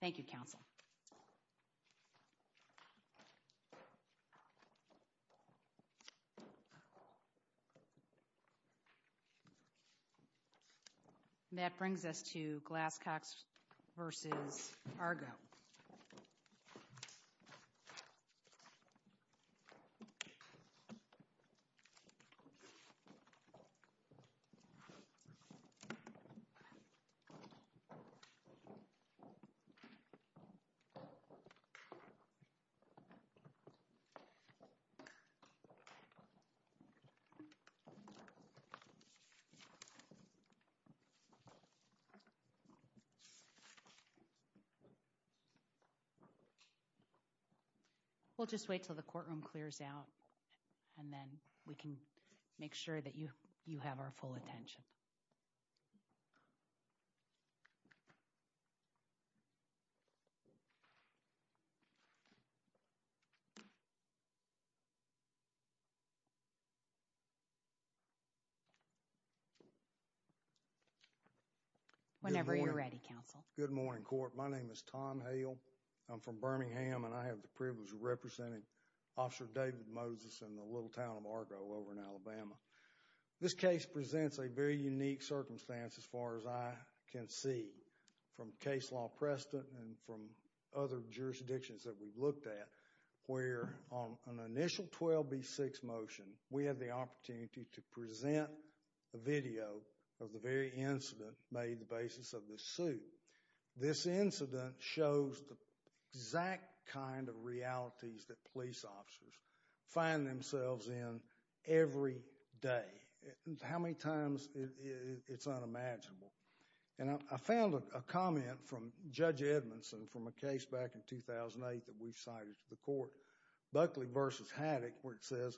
Thank you, Council. That brings us to Glasscox v. Argo. We'll just wait until the courtroom clears out, and then we can make sure that you have our full attention. Whenever you're ready, Council. Good morning. Good morning, Court. My name is Tom Hale. I'm from Birmingham, and I have the privilege of representing Officer David Moses in the little town of Argo over in Alabama. This case presents a very unique circumstance, as far as I can see, from case law precedent and from other jurisdictions that we've looked at, where on an initial 12B6 motion, we had the opportunity to present a video of the very incident made the basis of this suit. This incident shows the exact kind of realities that police officers find themselves in every day and how many times it's unimaginable. I found a comment from Judge Edmondson from a case back in 2008 that we cited to the court, Buckley v. Haddock, where it says,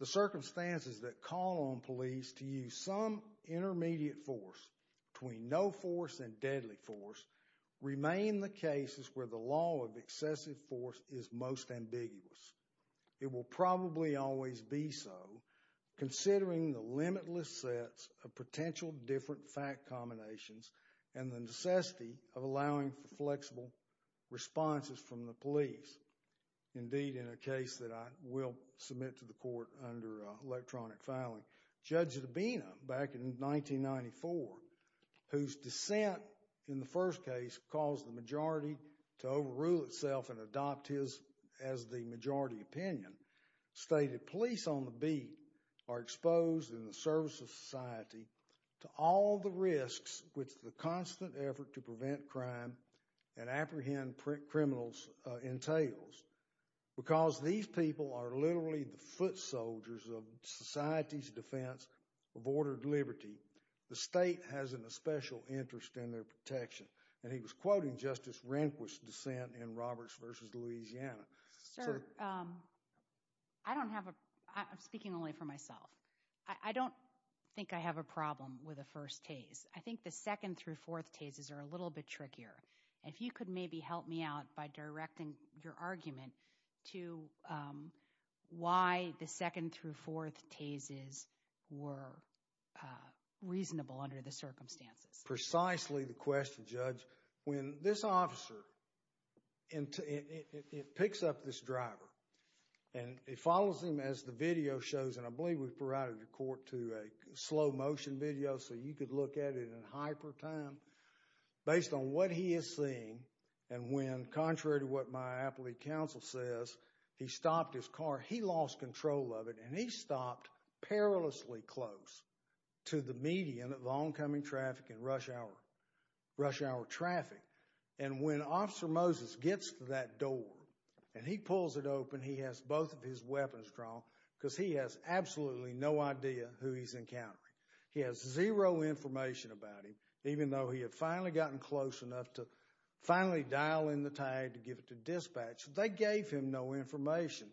the circumstances that call on police to use some intermediate force between no force and deadly force remain the cases where the law of excessive force is most ambiguous. It will probably always be so, considering the limitless sets of potential different fact combinations and the necessity of allowing for flexible responses from the police. Indeed, in a case that I will submit to the court under electronic filing, Judge Dabena back in 1994, whose dissent in the first case caused the majority to overrule itself and was the majority opinion, stated, police on the beat are exposed in the service of society to all the risks which the constant effort to prevent crime and apprehend criminals entails. Because these people are literally the foot soldiers of society's defense of ordered liberty, the state has an especial interest in their protection, and he was quoting Justice Rehnquist's dissent in Roberts v. Louisiana. Sir, I don't have a, I'm speaking only for myself. I don't think I have a problem with the first tase. I think the second through fourth tases are a little bit trickier. If you could maybe help me out by directing your argument to why the second through fourth tases were reasonable under the circumstances. Precisely the question, Judge. When this officer, it picks up this driver, and it follows him as the video shows, and I believe we've provided the court to a slow motion video so you could look at it in hyper time, based on what he is seeing, and when, contrary to what my appellate counsel says, he stopped his car, he lost control of it, and he stopped perilously close to the median of oncoming traffic and rush hour traffic, and when Officer Moses gets to that door, and he pulls it open, he has both of his weapons drawn, because he has absolutely no idea who he's encountering. He has zero information about him, even though he had finally gotten close enough to finally dial in the tag to give it to dispatch, they gave him no information,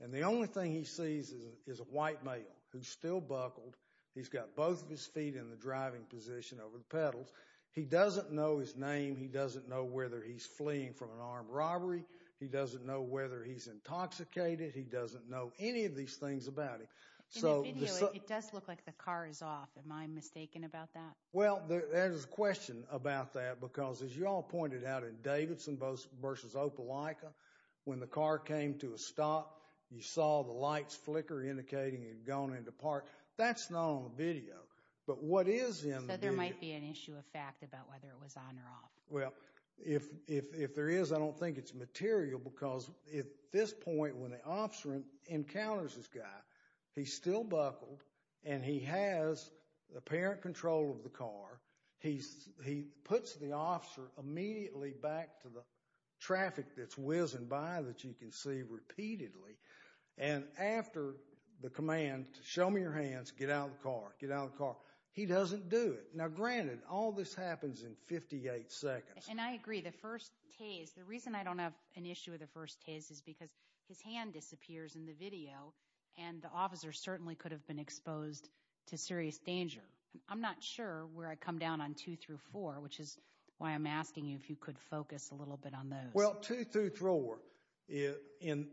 and the only thing he sees is a white male who's still buckled. He's got both of his feet in the driving position over the pedals. He doesn't know his name. He doesn't know whether he's fleeing from an armed robbery. He doesn't know whether he's intoxicated. He doesn't know any of these things about him. In the video, it does look like the car is off. Am I mistaken about that? Well, there's a question about that, because as you all pointed out in Davidson v. Opelika, when the car came to a stop, you saw the lights flicker, indicating it had gone into park. That's not on the video, but what is in the video- So there might be an issue of fact about whether it was on or off. Well, if there is, I don't think it's material, because at this point, when the officer encounters this guy, he's still buckled, and he has apparent control of the car. He puts the officer immediately back to the traffic that's whizzing by that you can see repeatedly. And after the command, show me your hands, get out of the car, get out of the car, he doesn't do it. Now, granted, all this happens in 58 seconds. And I agree. The first tase, the reason I don't have an issue with the first tase is because his hand disappears in the video, and the officer certainly could have been exposed to serious danger. I'm not sure where I come down on two through four, which is why I'm asking you if you could focus a little bit on those. Well, two through four, and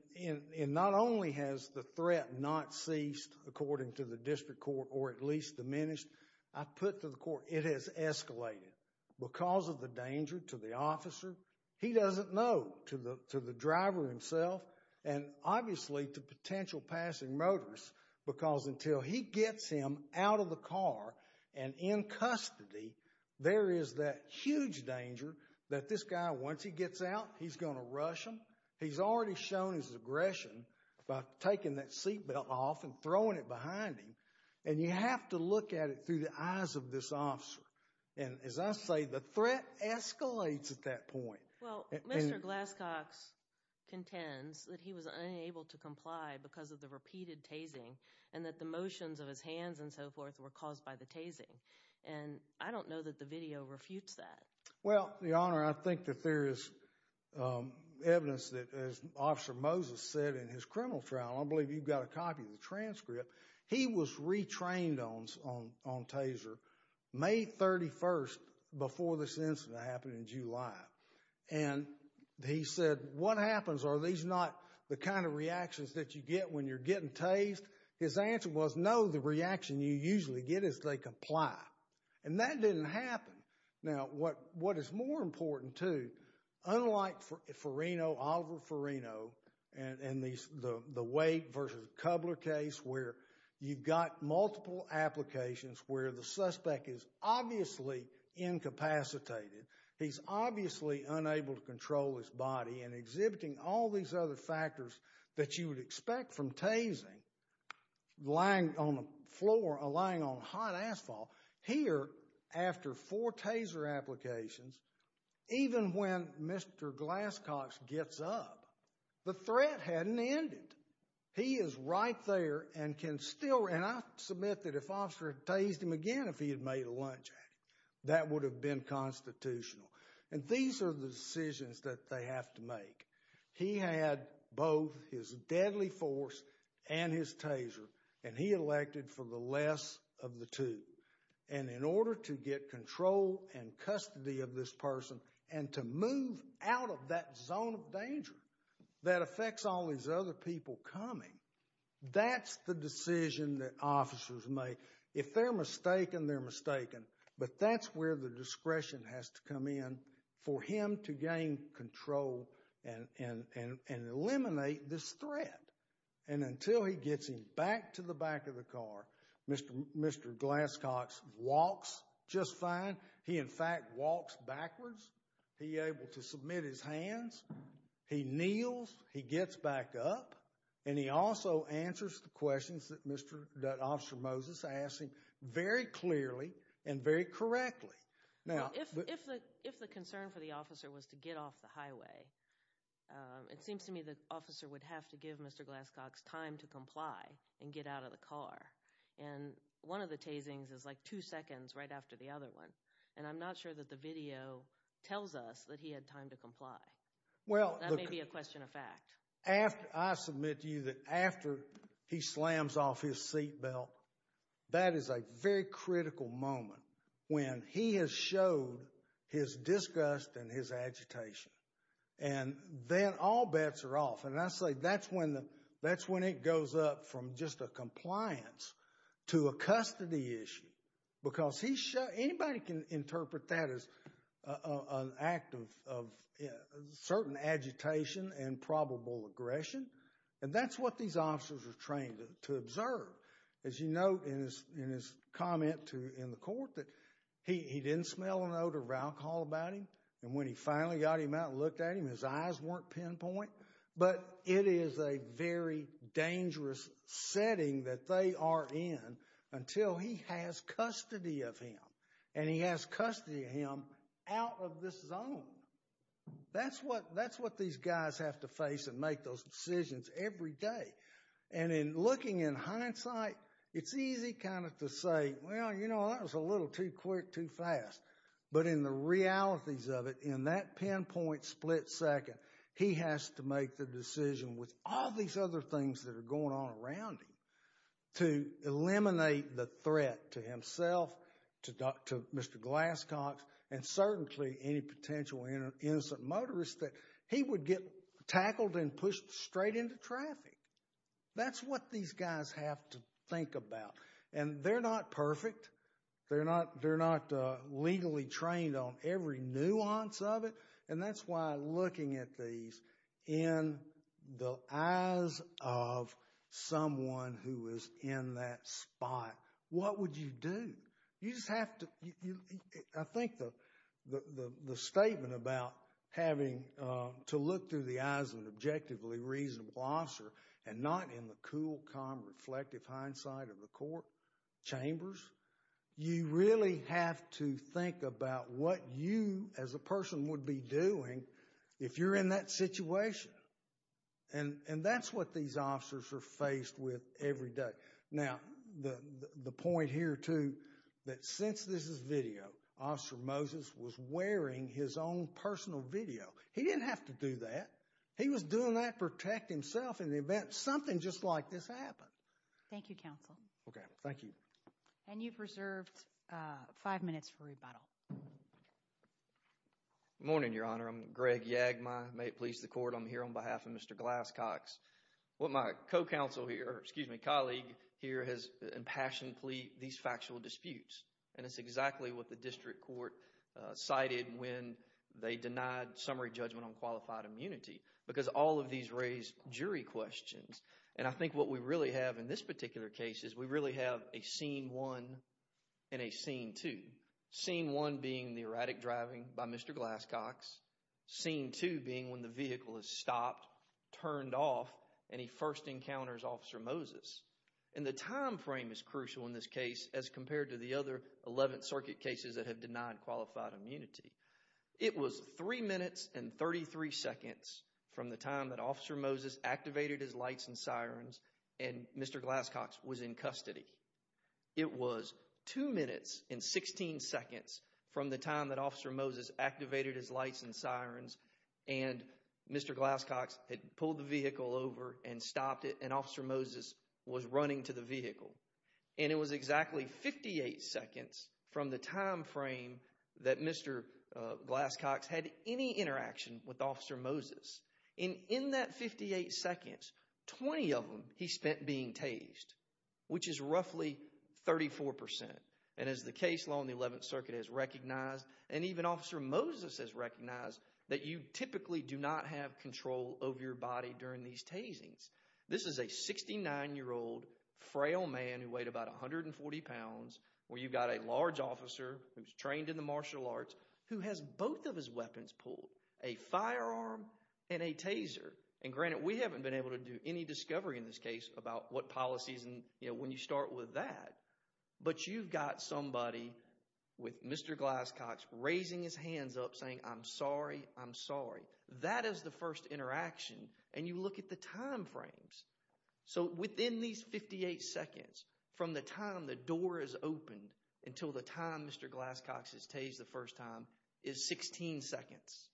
not only has the threat not ceased, according to the district court, or at least diminished, I put to the court, it has escalated. Because of the danger to the officer, he doesn't know, to the driver himself, and obviously to potential passing motors, because until he gets him out of the car and in custody, there is that huge danger that this guy, once he gets out, he's going to rush him. He's already shown his aggression by taking that seatbelt off and throwing it behind him. And you have to look at it through the eyes of this officer. And as I say, the threat escalates at that point. Well, Mr. Glasscox contends that he was unable to comply because of the repeated tasing, and that the motions of his hands and so forth were caused by the tasing. And I don't know that the video refutes that. Well, Your Honor, I think that there is evidence that, as Officer Moses said in his criminal trial, I believe you've got a copy of the transcript, he was retrained on taser May 31st before this incident happened in July. And he said, what happens? Are these not the kind of reactions that you get when you're getting tased? His answer was, no, the reaction you usually get is they comply. And that didn't happen. Now, what is more important, too, unlike Forino, Oliver Forino, and the Wake versus Kubler case, where you've got multiple applications, where the suspect is obviously incapacitated. He's obviously unable to control his body and exhibiting all these other factors that you would expect from tasing, lying on the floor, lying on hot asphalt. Here, after four taser applications, even when Mr. Glasscox gets up, the threat hadn't ended. He is right there and can still, and I submit that if Officer had tased him again, if he had made a lunge at him, that would have been constitutional. And these are the decisions that they have to make. He had both his deadly force and his taser, and he elected for the less of the two. And in order to get control and custody of this person and to move out of that zone of danger that affects all these other people coming, that's the decision that officers make. If they're mistaken, they're mistaken. But that's where the discretion has to come in for him to gain control and eliminate this threat. And until he gets him back to the back of the car, Mr. Glasscox walks just fine. He, in fact, walks backwards. He's able to submit his hands. He kneels. He gets back up. And he also answers the questions that Officer Moses asked him very clearly and very correctly. Now, if the concern for the officer was to get off the highway, it seems to me the officer would have to give Mr. Glasscox time to comply and get out of the car. And one of the tasings is like two seconds right after the other one. And I'm not sure that the video tells us that he had time to comply. Well, that may be a question of fact. I submit to you that after he slams off his seatbelt, that is a very critical moment when he has showed his disgust and his agitation. And then all bets are off. And I say that's when it goes up from just a compliance to a custody issue. Because anybody can interpret that as an act of certain agitation and probable aggression. And that's what these officers are trained to observe. As you note in his comment in the court that he didn't smell an odor of alcohol about him. And when he finally got him out and looked at him, his eyes weren't pinpoint. But it is a very dangerous setting that they are in until he has custody of him. And he has custody of him out of this zone. That's what these guys have to face and make those decisions every day. And in looking in hindsight, it's easy kind of to say, well, you know, that was a little too quick, too fast. But in the realities of it, in that pinpoint split second, he has to make the decision with all these other things that are going on around him to eliminate the threat to himself, to Mr. Glasscox, and certainly any potential innocent motorist that he would get tackled and pushed straight into traffic. That's what these guys have to think about. And they're not perfect. They're not legally trained on every nuance of it. And that's why looking at these in the eyes of someone who is in that spot, what would you do? You just have to—I think the statement about having to look through the eyes of an objectively reasonable officer and not in the cool, calm, reflective hindsight of the court chambers, you really have to think about what you as a person would be doing if you're in that situation. And that's what these officers are faced with every day. Now, the point here, too, that since this is video, Officer Moses was wearing his own personal video. He didn't have to do that. He was doing that to protect himself in the event something just like this happened. Thank you, counsel. Okay, thank you. And you've reserved five minutes for rebuttal. Morning, Your Honor. I'm Greg Yagma. May it please the Court, I'm here on behalf of Mr. Glass-Cox. What my co-counsel here, excuse me, colleague here has impassioned these factual disputes. And it's exactly what the district court cited when they denied summary judgment on qualified immunity, because all of these raise jury questions. And I think what we really have in this particular case is we really have a scene one and a scene two. Scene one being the erratic driving by Mr. Glass-Cox. Scene two being when the vehicle is stopped, turned off, and he first encounters Officer Moses. And the time frame is crucial in this case as compared to the other 11th Circuit cases that have denied qualified immunity. It was three minutes and 33 seconds from the time that Officer Moses activated his lights and sirens and Mr. Glass-Cox was in custody. It was two minutes and 16 seconds from the time that Officer Moses activated his lights and sirens and Mr. Glass-Cox had pulled the vehicle over and stopped it and Officer Moses was running to the vehicle. And it was exactly 58 seconds from the time frame that Mr. Glass-Cox had any interaction with Officer Moses. And in that 58 seconds, 20 of them he spent being tased, which is roughly 34 percent. And as the case law in the 11th Circuit has recognized and even Officer Moses has recognized that you typically do not have control over your body during these tasings. This is a 69-year-old frail man who weighed about 140 pounds where you've got a large trained in the martial arts who has both of his weapons pulled, a firearm and a taser. And granted, we haven't been able to do any discovery in this case about what policies and when you start with that. But you've got somebody with Mr. Glass-Cox raising his hands up saying, I'm sorry, I'm sorry. That is the first interaction. And you look at the time frames. So within these 58 seconds from the time the door is opened until the time Mr. Glass-Cox is tased the first time is 16 seconds.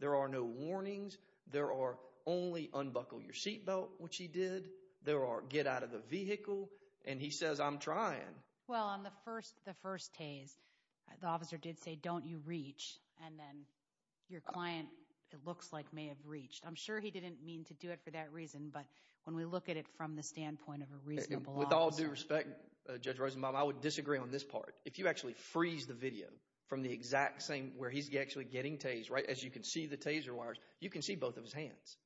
There are no warnings. There are only unbuckle your seatbelt, which he did. There are get out of the vehicle. And he says, I'm trying. Well, on the first the first tase, the officer did say, don't you reach? And then your client, it looks like may have reached. I'm sure he didn't mean to do it for that reason. But when we look at it from the standpoint of a reasonable officer. With all due respect, Judge Rosenbaum, I would disagree on this part. If you actually freeze the video from the exact same where he's actually getting tased, right, as you can see the taser wires, you can see both of his hands.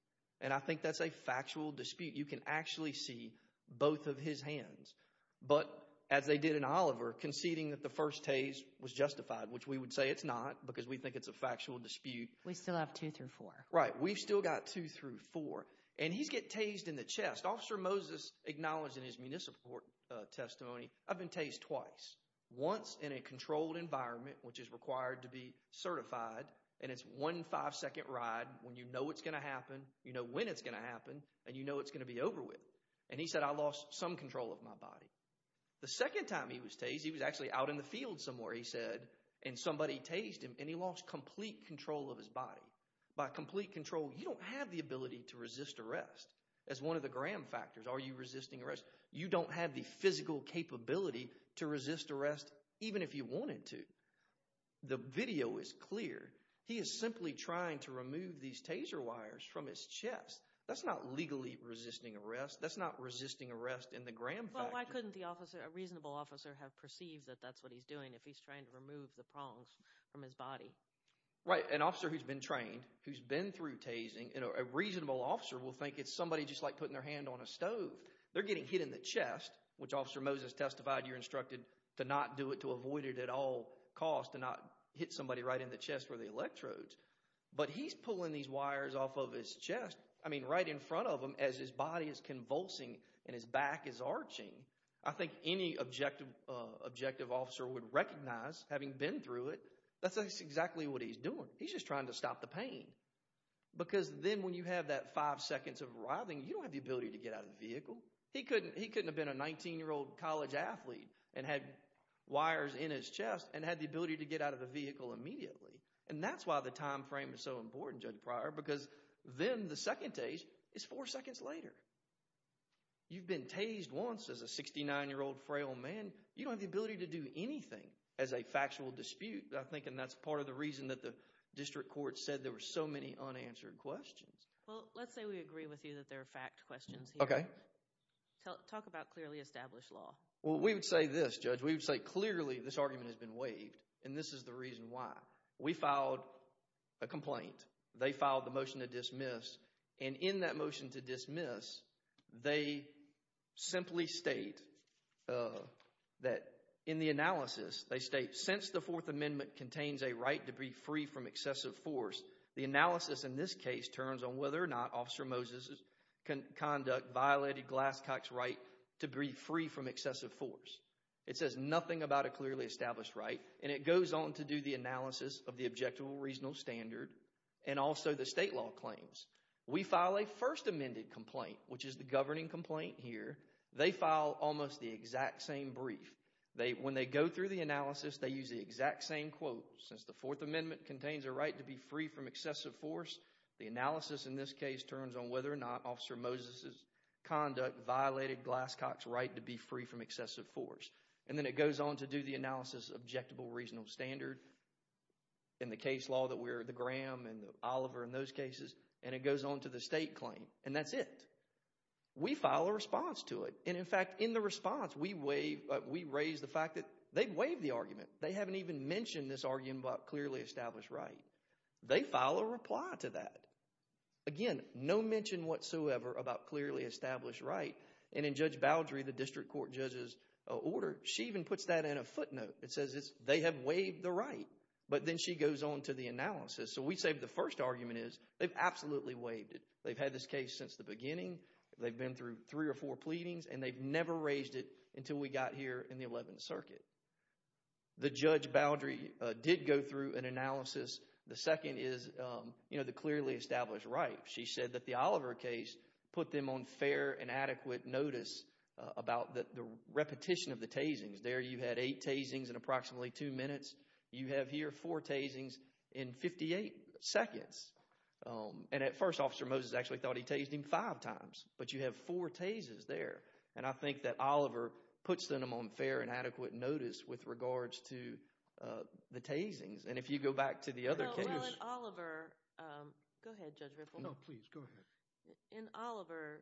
And I think that's a factual dispute. You can actually see both of his hands. But as they did in Oliver conceding that the first tase was justified, which we would say it's not because we think it's a factual dispute. We still have two through four. Right. We've still got two through four. And he's get tased in the chest. Officer Moses acknowledged in his municipal court testimony, I've been tased twice. Once in a controlled environment, which is required to be certified. And it's one five second ride when you know it's going to happen. You know when it's going to happen and you know it's going to be over with. And he said, I lost some control of my body. The second time he was tased, he was actually out in the field somewhere, he said. And somebody tased him and he lost complete control of his body. By complete control, you don't have the ability to resist arrest as one of the Graham factors. Are you resisting arrest? You don't have the physical capability to resist arrest, even if you wanted to. The video is clear. He is simply trying to remove these taser wires from his chest. That's not legally resisting arrest. That's not resisting arrest in the Graham. Well, why couldn't the officer, a reasonable officer, have perceived that that's what he's doing if he's trying to remove the prongs from his body? Right. An officer who's been trained, who's been through tasing, a reasonable officer will think it's somebody just like putting their hand on a stove. They're getting hit in the chest, which Officer Moses testified you're instructed to not do it, to avoid it at all costs, to not hit somebody right in the chest where the electrodes. But he's pulling these wires off of his chest. I mean, right in front of him as his body is convulsing and his back is arching. I think any objective officer would recognize, having been through it, that's exactly what he's doing. He's just trying to stop the pain. Because then when you have that five seconds of writhing, you don't have the ability to get out of the vehicle. He couldn't have been a 19-year-old college athlete and had wires in his chest and had the ability to get out of the vehicle immediately. And that's why the time frame is so important, Judge Pryor, because then the second tase is four seconds later. You've been tased once as a 69-year-old frail man. You don't have the ability to do anything as a factual dispute. And that's part of the reason that the district court said there were so many unanswered questions. Well, let's say we agree with you that there are fact questions here. Okay. Talk about clearly established law. Well, we would say this, Judge. We would say, clearly, this argument has been waived. And this is the reason why. We filed a complaint. They filed the motion to dismiss. And in that motion to dismiss, they simply state that in the analysis, they state, since the Fourth Amendment contains a right to be free from excessive force, the analysis in this case turns on whether or not Officer Moses' conduct violated Glasscock's right to be free from excessive force. It says nothing about a clearly established right. And it goes on to do the analysis of the Objectable Reasonable Standard and also the state law claims. We file a first amended complaint, which is the governing complaint here. They file almost the exact same brief. When they go through the analysis, they use the exact same quote, since the Fourth Amendment contains a right to be free from excessive force, the analysis in this case turns on whether or not Officer Moses' conduct violated Glasscock's right to be free from excessive force. And then it goes on to do the analysis of Objectable Reasonable Standard and the case law that we're the Graham and the Oliver in those cases. And it goes on to the state claim. And that's it. We file a response to it. And in fact, in the response, we raise the fact that they've waived the argument. They haven't even mentioned this argument about clearly established right. They file a reply to that. Again, no mention whatsoever about clearly established right. And in Judge Baldry, the district court judge's order, she even puts that in a footnote. It says they have waived the right. But then she goes on to the analysis. So we say the first argument is they've absolutely waived it. They've had this case since the beginning. They've been through three or four pleadings. And they've never raised it until we got here in the 11th Circuit. The Judge Baldry did go through an analysis. The second is, you know, the clearly established right. She said that the Oliver case put them on fair and adequate notice about the repetition of the tasings. There you had eight tasings in approximately two minutes. You have here four tasings in 58 seconds. And at first, Officer Moses actually thought he tased him five times. But you have four tases there. And I think that Oliver puts them on fair and adequate notice with regards to the tasings. And if you go back to the other cases— No, well, in Oliver—go ahead, Judge Riffle. No, please, go ahead. In Oliver,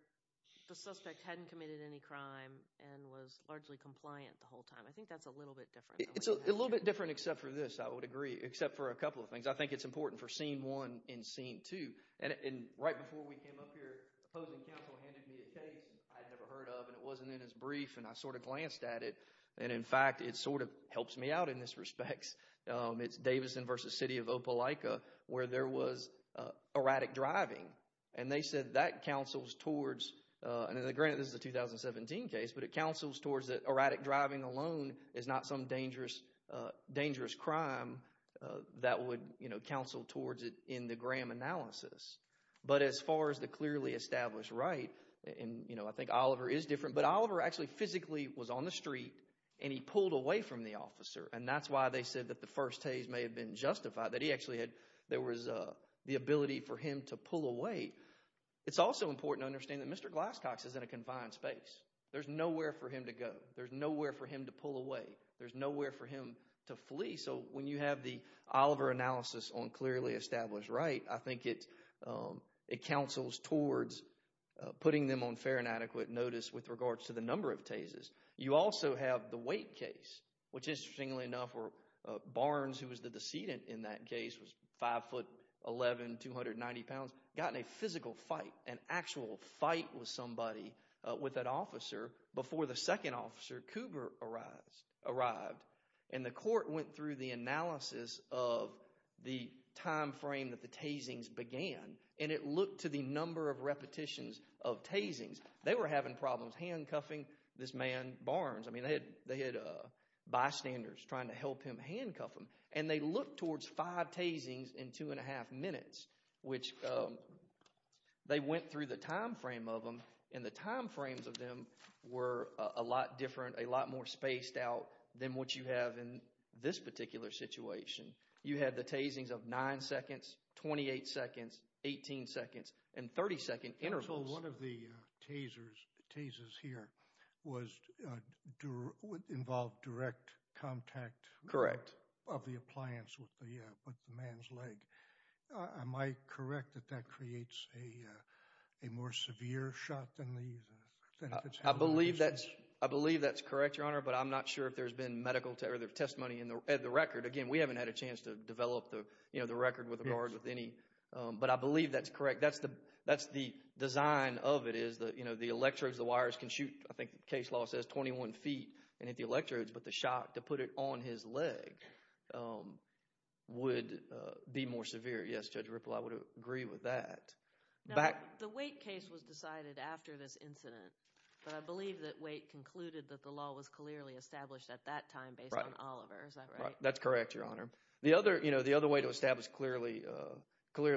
the suspect hadn't committed any crime and was largely compliant the whole time. I think that's a little bit different. It's a little bit different except for this, I would agree, except for a couple of things. I think it's important for scene one and scene two. And right before we came up here, opposing counsel handed me a case I had never heard of, and it wasn't in his brief, and I sort of glanced at it. And in fact, it sort of helps me out in this respect. It's Davidson v. City of Opelika where there was erratic driving. And they said that counsels towards—and granted, this is a 2017 case—but it counsels that erratic driving alone is not some dangerous crime that would counsel towards it in the Graham analysis. But as far as the clearly established right, and I think Oliver is different, but Oliver actually physically was on the street, and he pulled away from the officer. And that's why they said that the first haze may have been justified, that he actually had—there was the ability for him to pull away. It's also important to understand that Mr. Glass-Cox is in a confined space. There's nowhere for him to go. There's nowhere for him to pull away. There's nowhere for him to flee. So when you have the Oliver analysis on clearly established right, I think it counsels towards putting them on fair and adequate notice with regards to the number of hazes. You also have the weight case, which, interestingly enough, Barnes, who was the decedent in that case, was 5'11", 290 pounds, got in a physical fight, an actual fight with somebody with that officer before the second officer, Coober, arrived. And the court went through the analysis of the time frame that the tasings began, and it looked to the number of repetitions of tasings. They were having problems handcuffing this man, Barnes. I mean, they had bystanders trying to help him handcuff him. And they looked towards five tasings in two and a half minutes, which they went through the time frame of them, and the time frames of them were a lot different, a lot more spaced out than what you have in this particular situation. You had the tasings of nine seconds, 28 seconds, 18 seconds, and 30-second intervals. So one of the tasers here involved direct contact of the appliance with the man's leg. Am I correct that that creates a more severe shot than these? I believe that's correct, Your Honor, but I'm not sure if there's been medical testimony in the record. Again, we haven't had a chance to develop the record with regard to any, but I believe that's correct. That's the design of it, is the electrodes, the wires can shoot, I think the case law says 21 feet and hit the electrodes, but the shot to put it on his leg would be more severe. Yes, Judge Ripple, I would agree with that. Now, the Waite case was decided after this incident, but I believe that Waite concluded that the law was clearly established at that time based on Oliver. Is that right? That's correct, Your Honor. The other way to establish clearly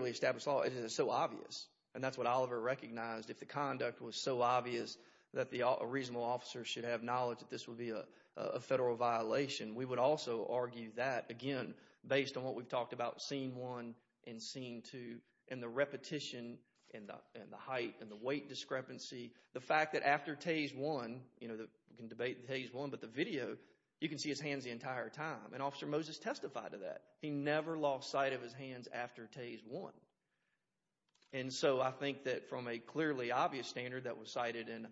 established law is that it's so obvious, and that's what Oliver recognized, if the conduct was so obvious that a reasonable officer should have knowledge that this would be a federal violation. We would also argue that, again, based on what we've talked about, scene one and scene two, and the repetition, and the height, and the weight discrepancy, the fact that after tase one, you can debate the tase one, but the video, you can see his hands the entire time, and Officer Moses testified to that. He never lost sight of his hands after tase one. And so I think that from a clearly obvious standard that was cited in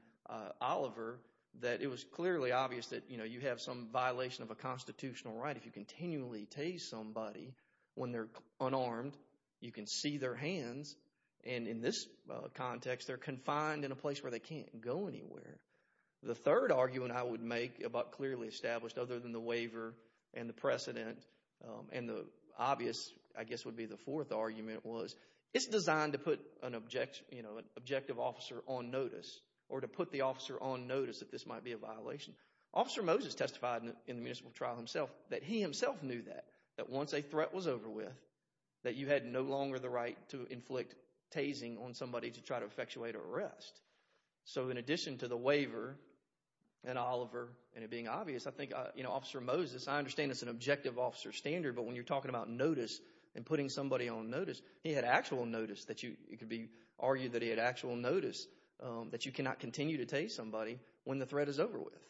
Oliver, that it was clearly obvious that, you know, you have some violation of a constitutional right. If you continually tase somebody when they're unarmed, you can see their hands, and in this context, they're confined in a place where they can't go anywhere. The third argument I would make about clearly established, other than the waiver and the argument was, it's designed to put an objective officer on notice, or to put the officer on notice that this might be a violation. Officer Moses testified in the municipal trial himself that he himself knew that, that once a threat was over with, that you had no longer the right to inflict tasing on somebody to try to effectuate an arrest. So in addition to the waiver, and Oliver, and it being obvious, I think, you know, Officer Moses, I understand it's an objective officer standard, but when you're talking about notice and putting somebody on notice, he had actual notice that you, it could be argued that he had actual notice that you cannot continue to tase somebody when the threat is over with.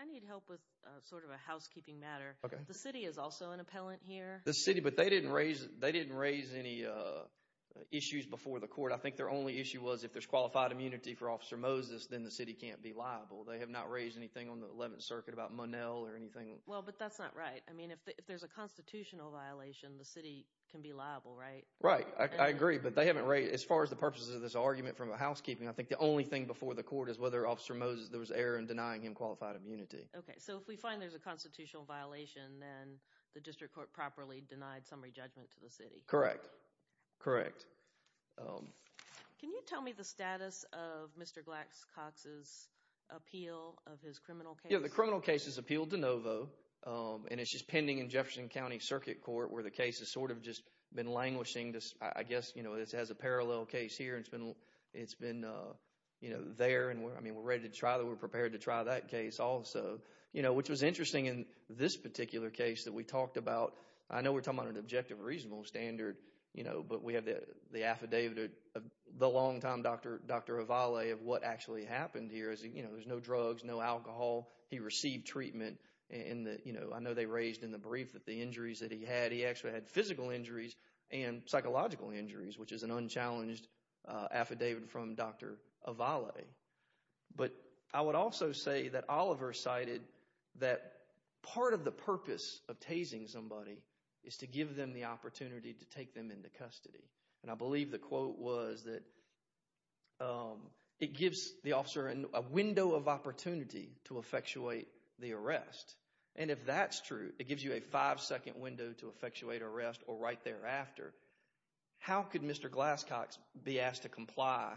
I need help with sort of a housekeeping matter. The city is also an appellant here. The city, but they didn't raise, they didn't raise any issues before the court. I think their only issue was if there's qualified immunity for Officer Moses, then the city can't be liable. They have not raised anything on the 11th Circuit about Monell or anything. Well, but that's not right. I mean, if there's a constitutional violation, the city can be liable, right? Right. I agree, but they haven't raised, as far as the purposes of this argument from a housekeeping, I think the only thing before the court is whether Officer Moses, there was error in denying him qualified immunity. Okay. So if we find there's a constitutional violation, then the district court properly denied summary judgment to the city. Correct. Correct. Can you tell me the status of Mr. Glax-Cox's appeal of his criminal case? The criminal case is appealed de novo, and it's just pending in Jefferson County Circuit Court where the case has sort of just been languishing. I guess, you know, it has a parallel case here. It's been, you know, there, and I mean, we're ready to try that. We're prepared to try that case also, you know, which was interesting in this particular case that we talked about. I know we're talking about an objective, reasonable standard, you know, but we have the affidavit of the longtime Dr. Ovale of what actually happened here is, you know, there's no drugs, no alcohol. He received treatment in the, you know, I know they raised in the brief that the injuries that he had, he actually had physical injuries and psychological injuries, which is an unchallenged affidavit from Dr. Ovale. But I would also say that Oliver cited that part of the purpose of tasing somebody is to give them the opportunity to take them into custody. And I believe the quote was that it gives the officer a window of opportunity to effectuate the arrest. And if that's true, it gives you a five-second window to effectuate arrest or right thereafter. How could Mr. Glasscox be asked to comply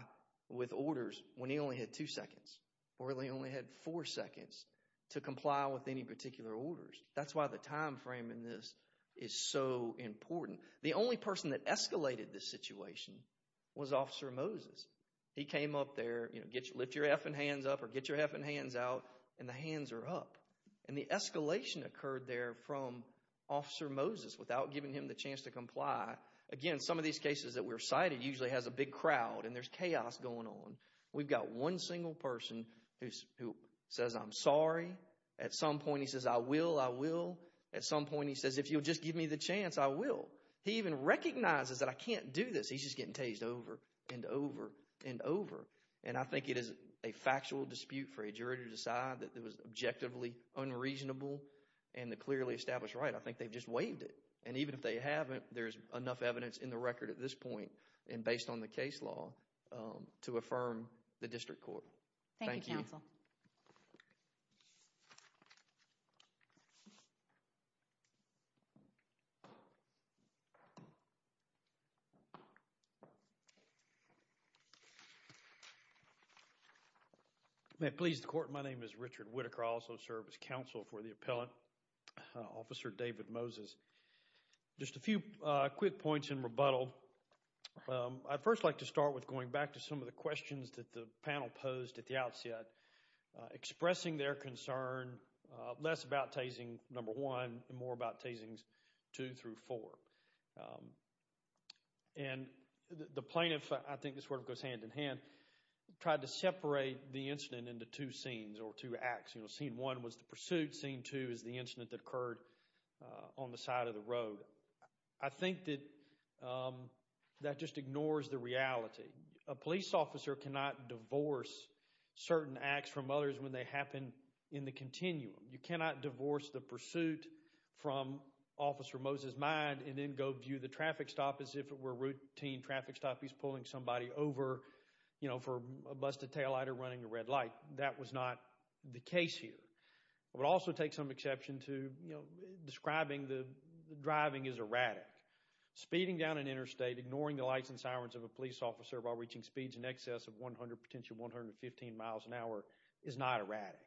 with orders when he only had two seconds or he only had four seconds to comply with any particular orders? That's why the time frame in this is so important. The only person that escalated this situation was Officer Moses. He came up there, you know, lift your effing hands up or get your effing hands out and the hands are up. And the escalation occurred there from Officer Moses without giving him the chance to comply. Again, some of these cases that were cited usually has a big crowd and there's chaos going on. We've got one single person who says, I'm sorry. At some point, he says, I will, I will. At some point, he says, if you'll just give me the chance, I will. He even recognizes that I can't do this. He's just getting tased over and over and over. And I think it is a factual dispute for a jury to decide that it was objectively unreasonable and a clearly established right. I think they've just waived it. And even if they haven't, there's enough evidence in the record at this point and based on the case law to affirm the district court. Thank you. May it please the court, my name is Richard Whittaker. I also serve as counsel for the appellant, Officer David Moses. Just a few quick points in rebuttal. I'd first like to start with going back to some of the questions that the panel posed at the outset, expressing their concern less about tasing number one and more about tasings two through four. And the plaintiff, I think this sort of goes hand in hand, tried to separate the incident into two scenes or two acts. You know, scene one was the pursuit. Scene two is the incident that occurred on the side of the road. I think that that just ignores the reality. A police officer cannot divorce certain acts from others when they happen in the continuum. You cannot divorce the pursuit from Officer Moses' mind and then go view the traffic stop as if it were a routine traffic stop. He's pulling somebody over, you know, for a busted taillight or running a red light. That was not the case here. It would also take some exception to, you know, describing the driving as erratic. Speeding down an interstate, ignoring the lights and sirens of a police officer while reaching speeds in excess of 100, potentially 115 miles an hour is not erratic.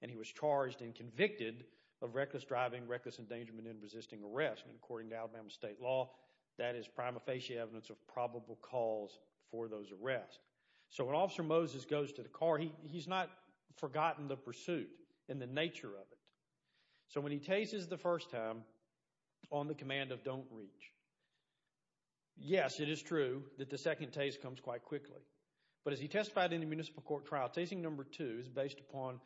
And he was charged and convicted of reckless driving, reckless endangerment, and resisting arrest. And according to Alabama state law, that is prima facie evidence of probable cause for those arrests. So when Officer Moses goes to the car, he's not forgotten the pursuit and the nature of it. So when he tases the first time on the command of don't reach, yes, it is true that the second tase comes quite quickly. But as he testified in the municipal court trial, tasing number two is based upon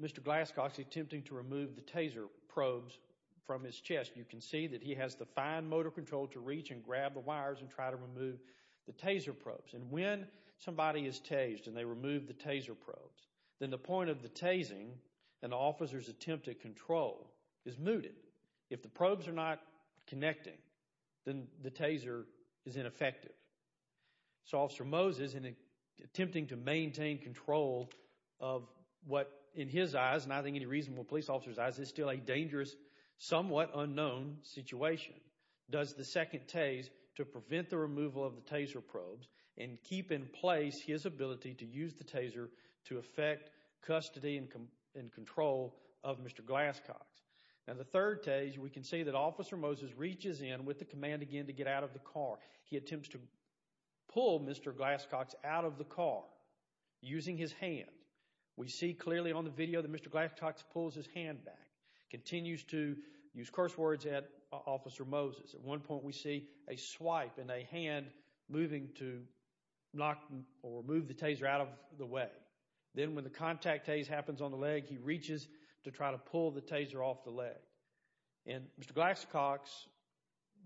Mr. Glasscox attempting to remove the taser probes from his chest. You can see that he has the fine motor control to reach and grab the wires and try to remove the taser probes. And when somebody is tased and they remove the taser probes, then the point of the tasing and the officer's attempt to control is mooted. If the probes are not connecting, then the taser is ineffective. So Officer Moses, in attempting to maintain control of what, in his eyes, and I think any reasonable police officer's eyes, is still a dangerous, somewhat unknown situation, does the second tase to prevent the removal of the taser probes and keep in place his ability to use the taser to affect custody and control of Mr. Glasscox. Now the third tase, we can see that Officer Moses reaches in with the command again to get out of the car. He attempts to pull Mr. Glasscox out of the car using his hand. We see clearly on the video that Mr. Glasscox pulls his hand back, continues to use curse words at Officer Moses. At one point we see a swipe and a hand moving to knock or move the taser out of the way. Then when the contact tase happens on the leg, he reaches to try to pull the taser off the leg. And Mr. Glasscox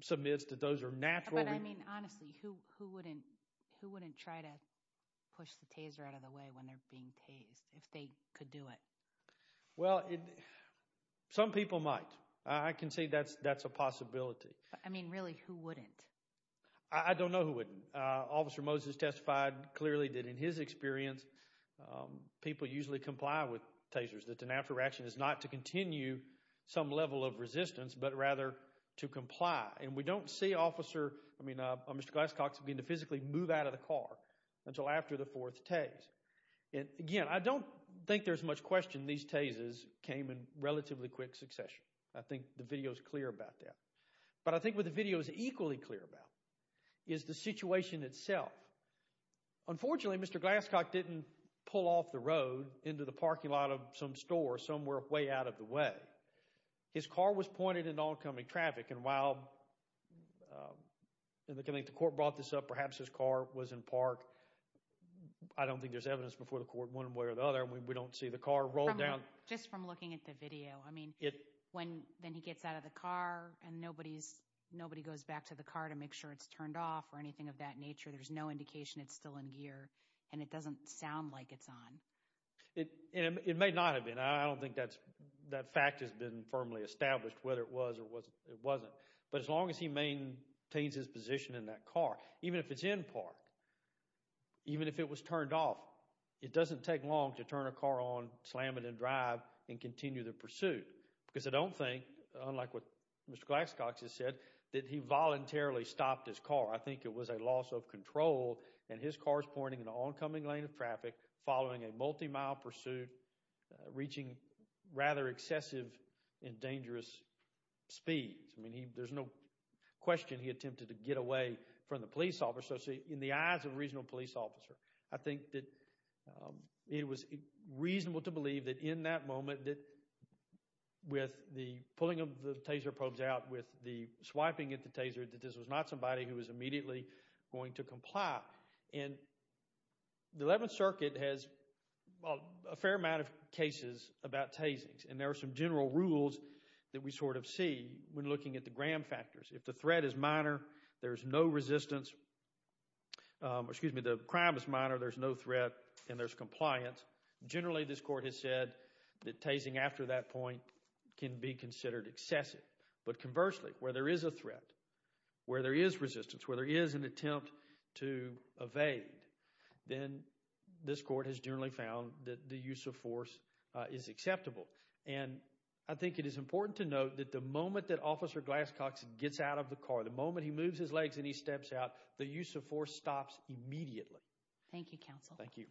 submits that those are natural. But I mean, honestly, who wouldn't try to push the taser out of the way when they're being tased, if they could do it? Well, some people might. I can see that's a possibility. I mean, really, who wouldn't? I don't know who wouldn't. Officer Moses testified clearly that in his experience, people usually comply with tasers, that an after action is not to continue some level of resistance, but rather to comply. And we don't see Officer, I mean, Mr. Glasscox begin to physically move out of the car until after the fourth tase. And again, I don't think there's much question these tases came in relatively quick succession. I think the video is clear about that. But I think what the video is equally clear about is the situation itself. Unfortunately, Mr. Glasscox didn't pull off the road into the parking lot of some store somewhere way out of the way. His car was pointed into oncoming traffic. And while the court brought this up, perhaps his car was in park. I don't think there's evidence before the court one way or the other. We don't see the car roll down. Just from looking at the video. When he gets out of the car and nobody goes back to the car to make sure it's turned off or anything of that nature, there's no indication it's still in gear. And it doesn't sound like it's on. It may not have been. I don't think that fact has been firmly established whether it was or wasn't. But as long as he maintains his position in that car, even if it's in park, even if it was turned off, it doesn't take long to turn a car on, slam it and drive, and continue the pursuit. Because I don't think, unlike what Mr. Glasscox has said, that he voluntarily stopped his car. I think it was a loss of control. And his car's pointing into oncoming lane of traffic following a multi-mile pursuit reaching rather excessive and dangerous speeds. I mean, there's no question he attempted to get away from the police officer in the eyes of a regional police officer. I think that it was reasonable to believe that in that moment that with the pulling of the taser probes out, with the swiping at the taser, that this was not somebody who was immediately going to comply. And the 11th Circuit has a fair amount of cases about tasings. And there are some general rules that we sort of see when looking at the gram factors. If the threat is minor, there's no resistance, excuse me, the crime is minor, there's no threat, and there's compliance. Generally, this Court has said that tasing after that point can be considered excessive. But conversely, where there is a threat, where there is resistance, where there is an attempt to evade, then this Court has generally found that the use of force is acceptable. And I think it is important to note that the moment that Officer Glasscox gets out of the car, the moment he moves his legs and he steps out, the use of force stops immediately. Thank you, Counsel. Thank you.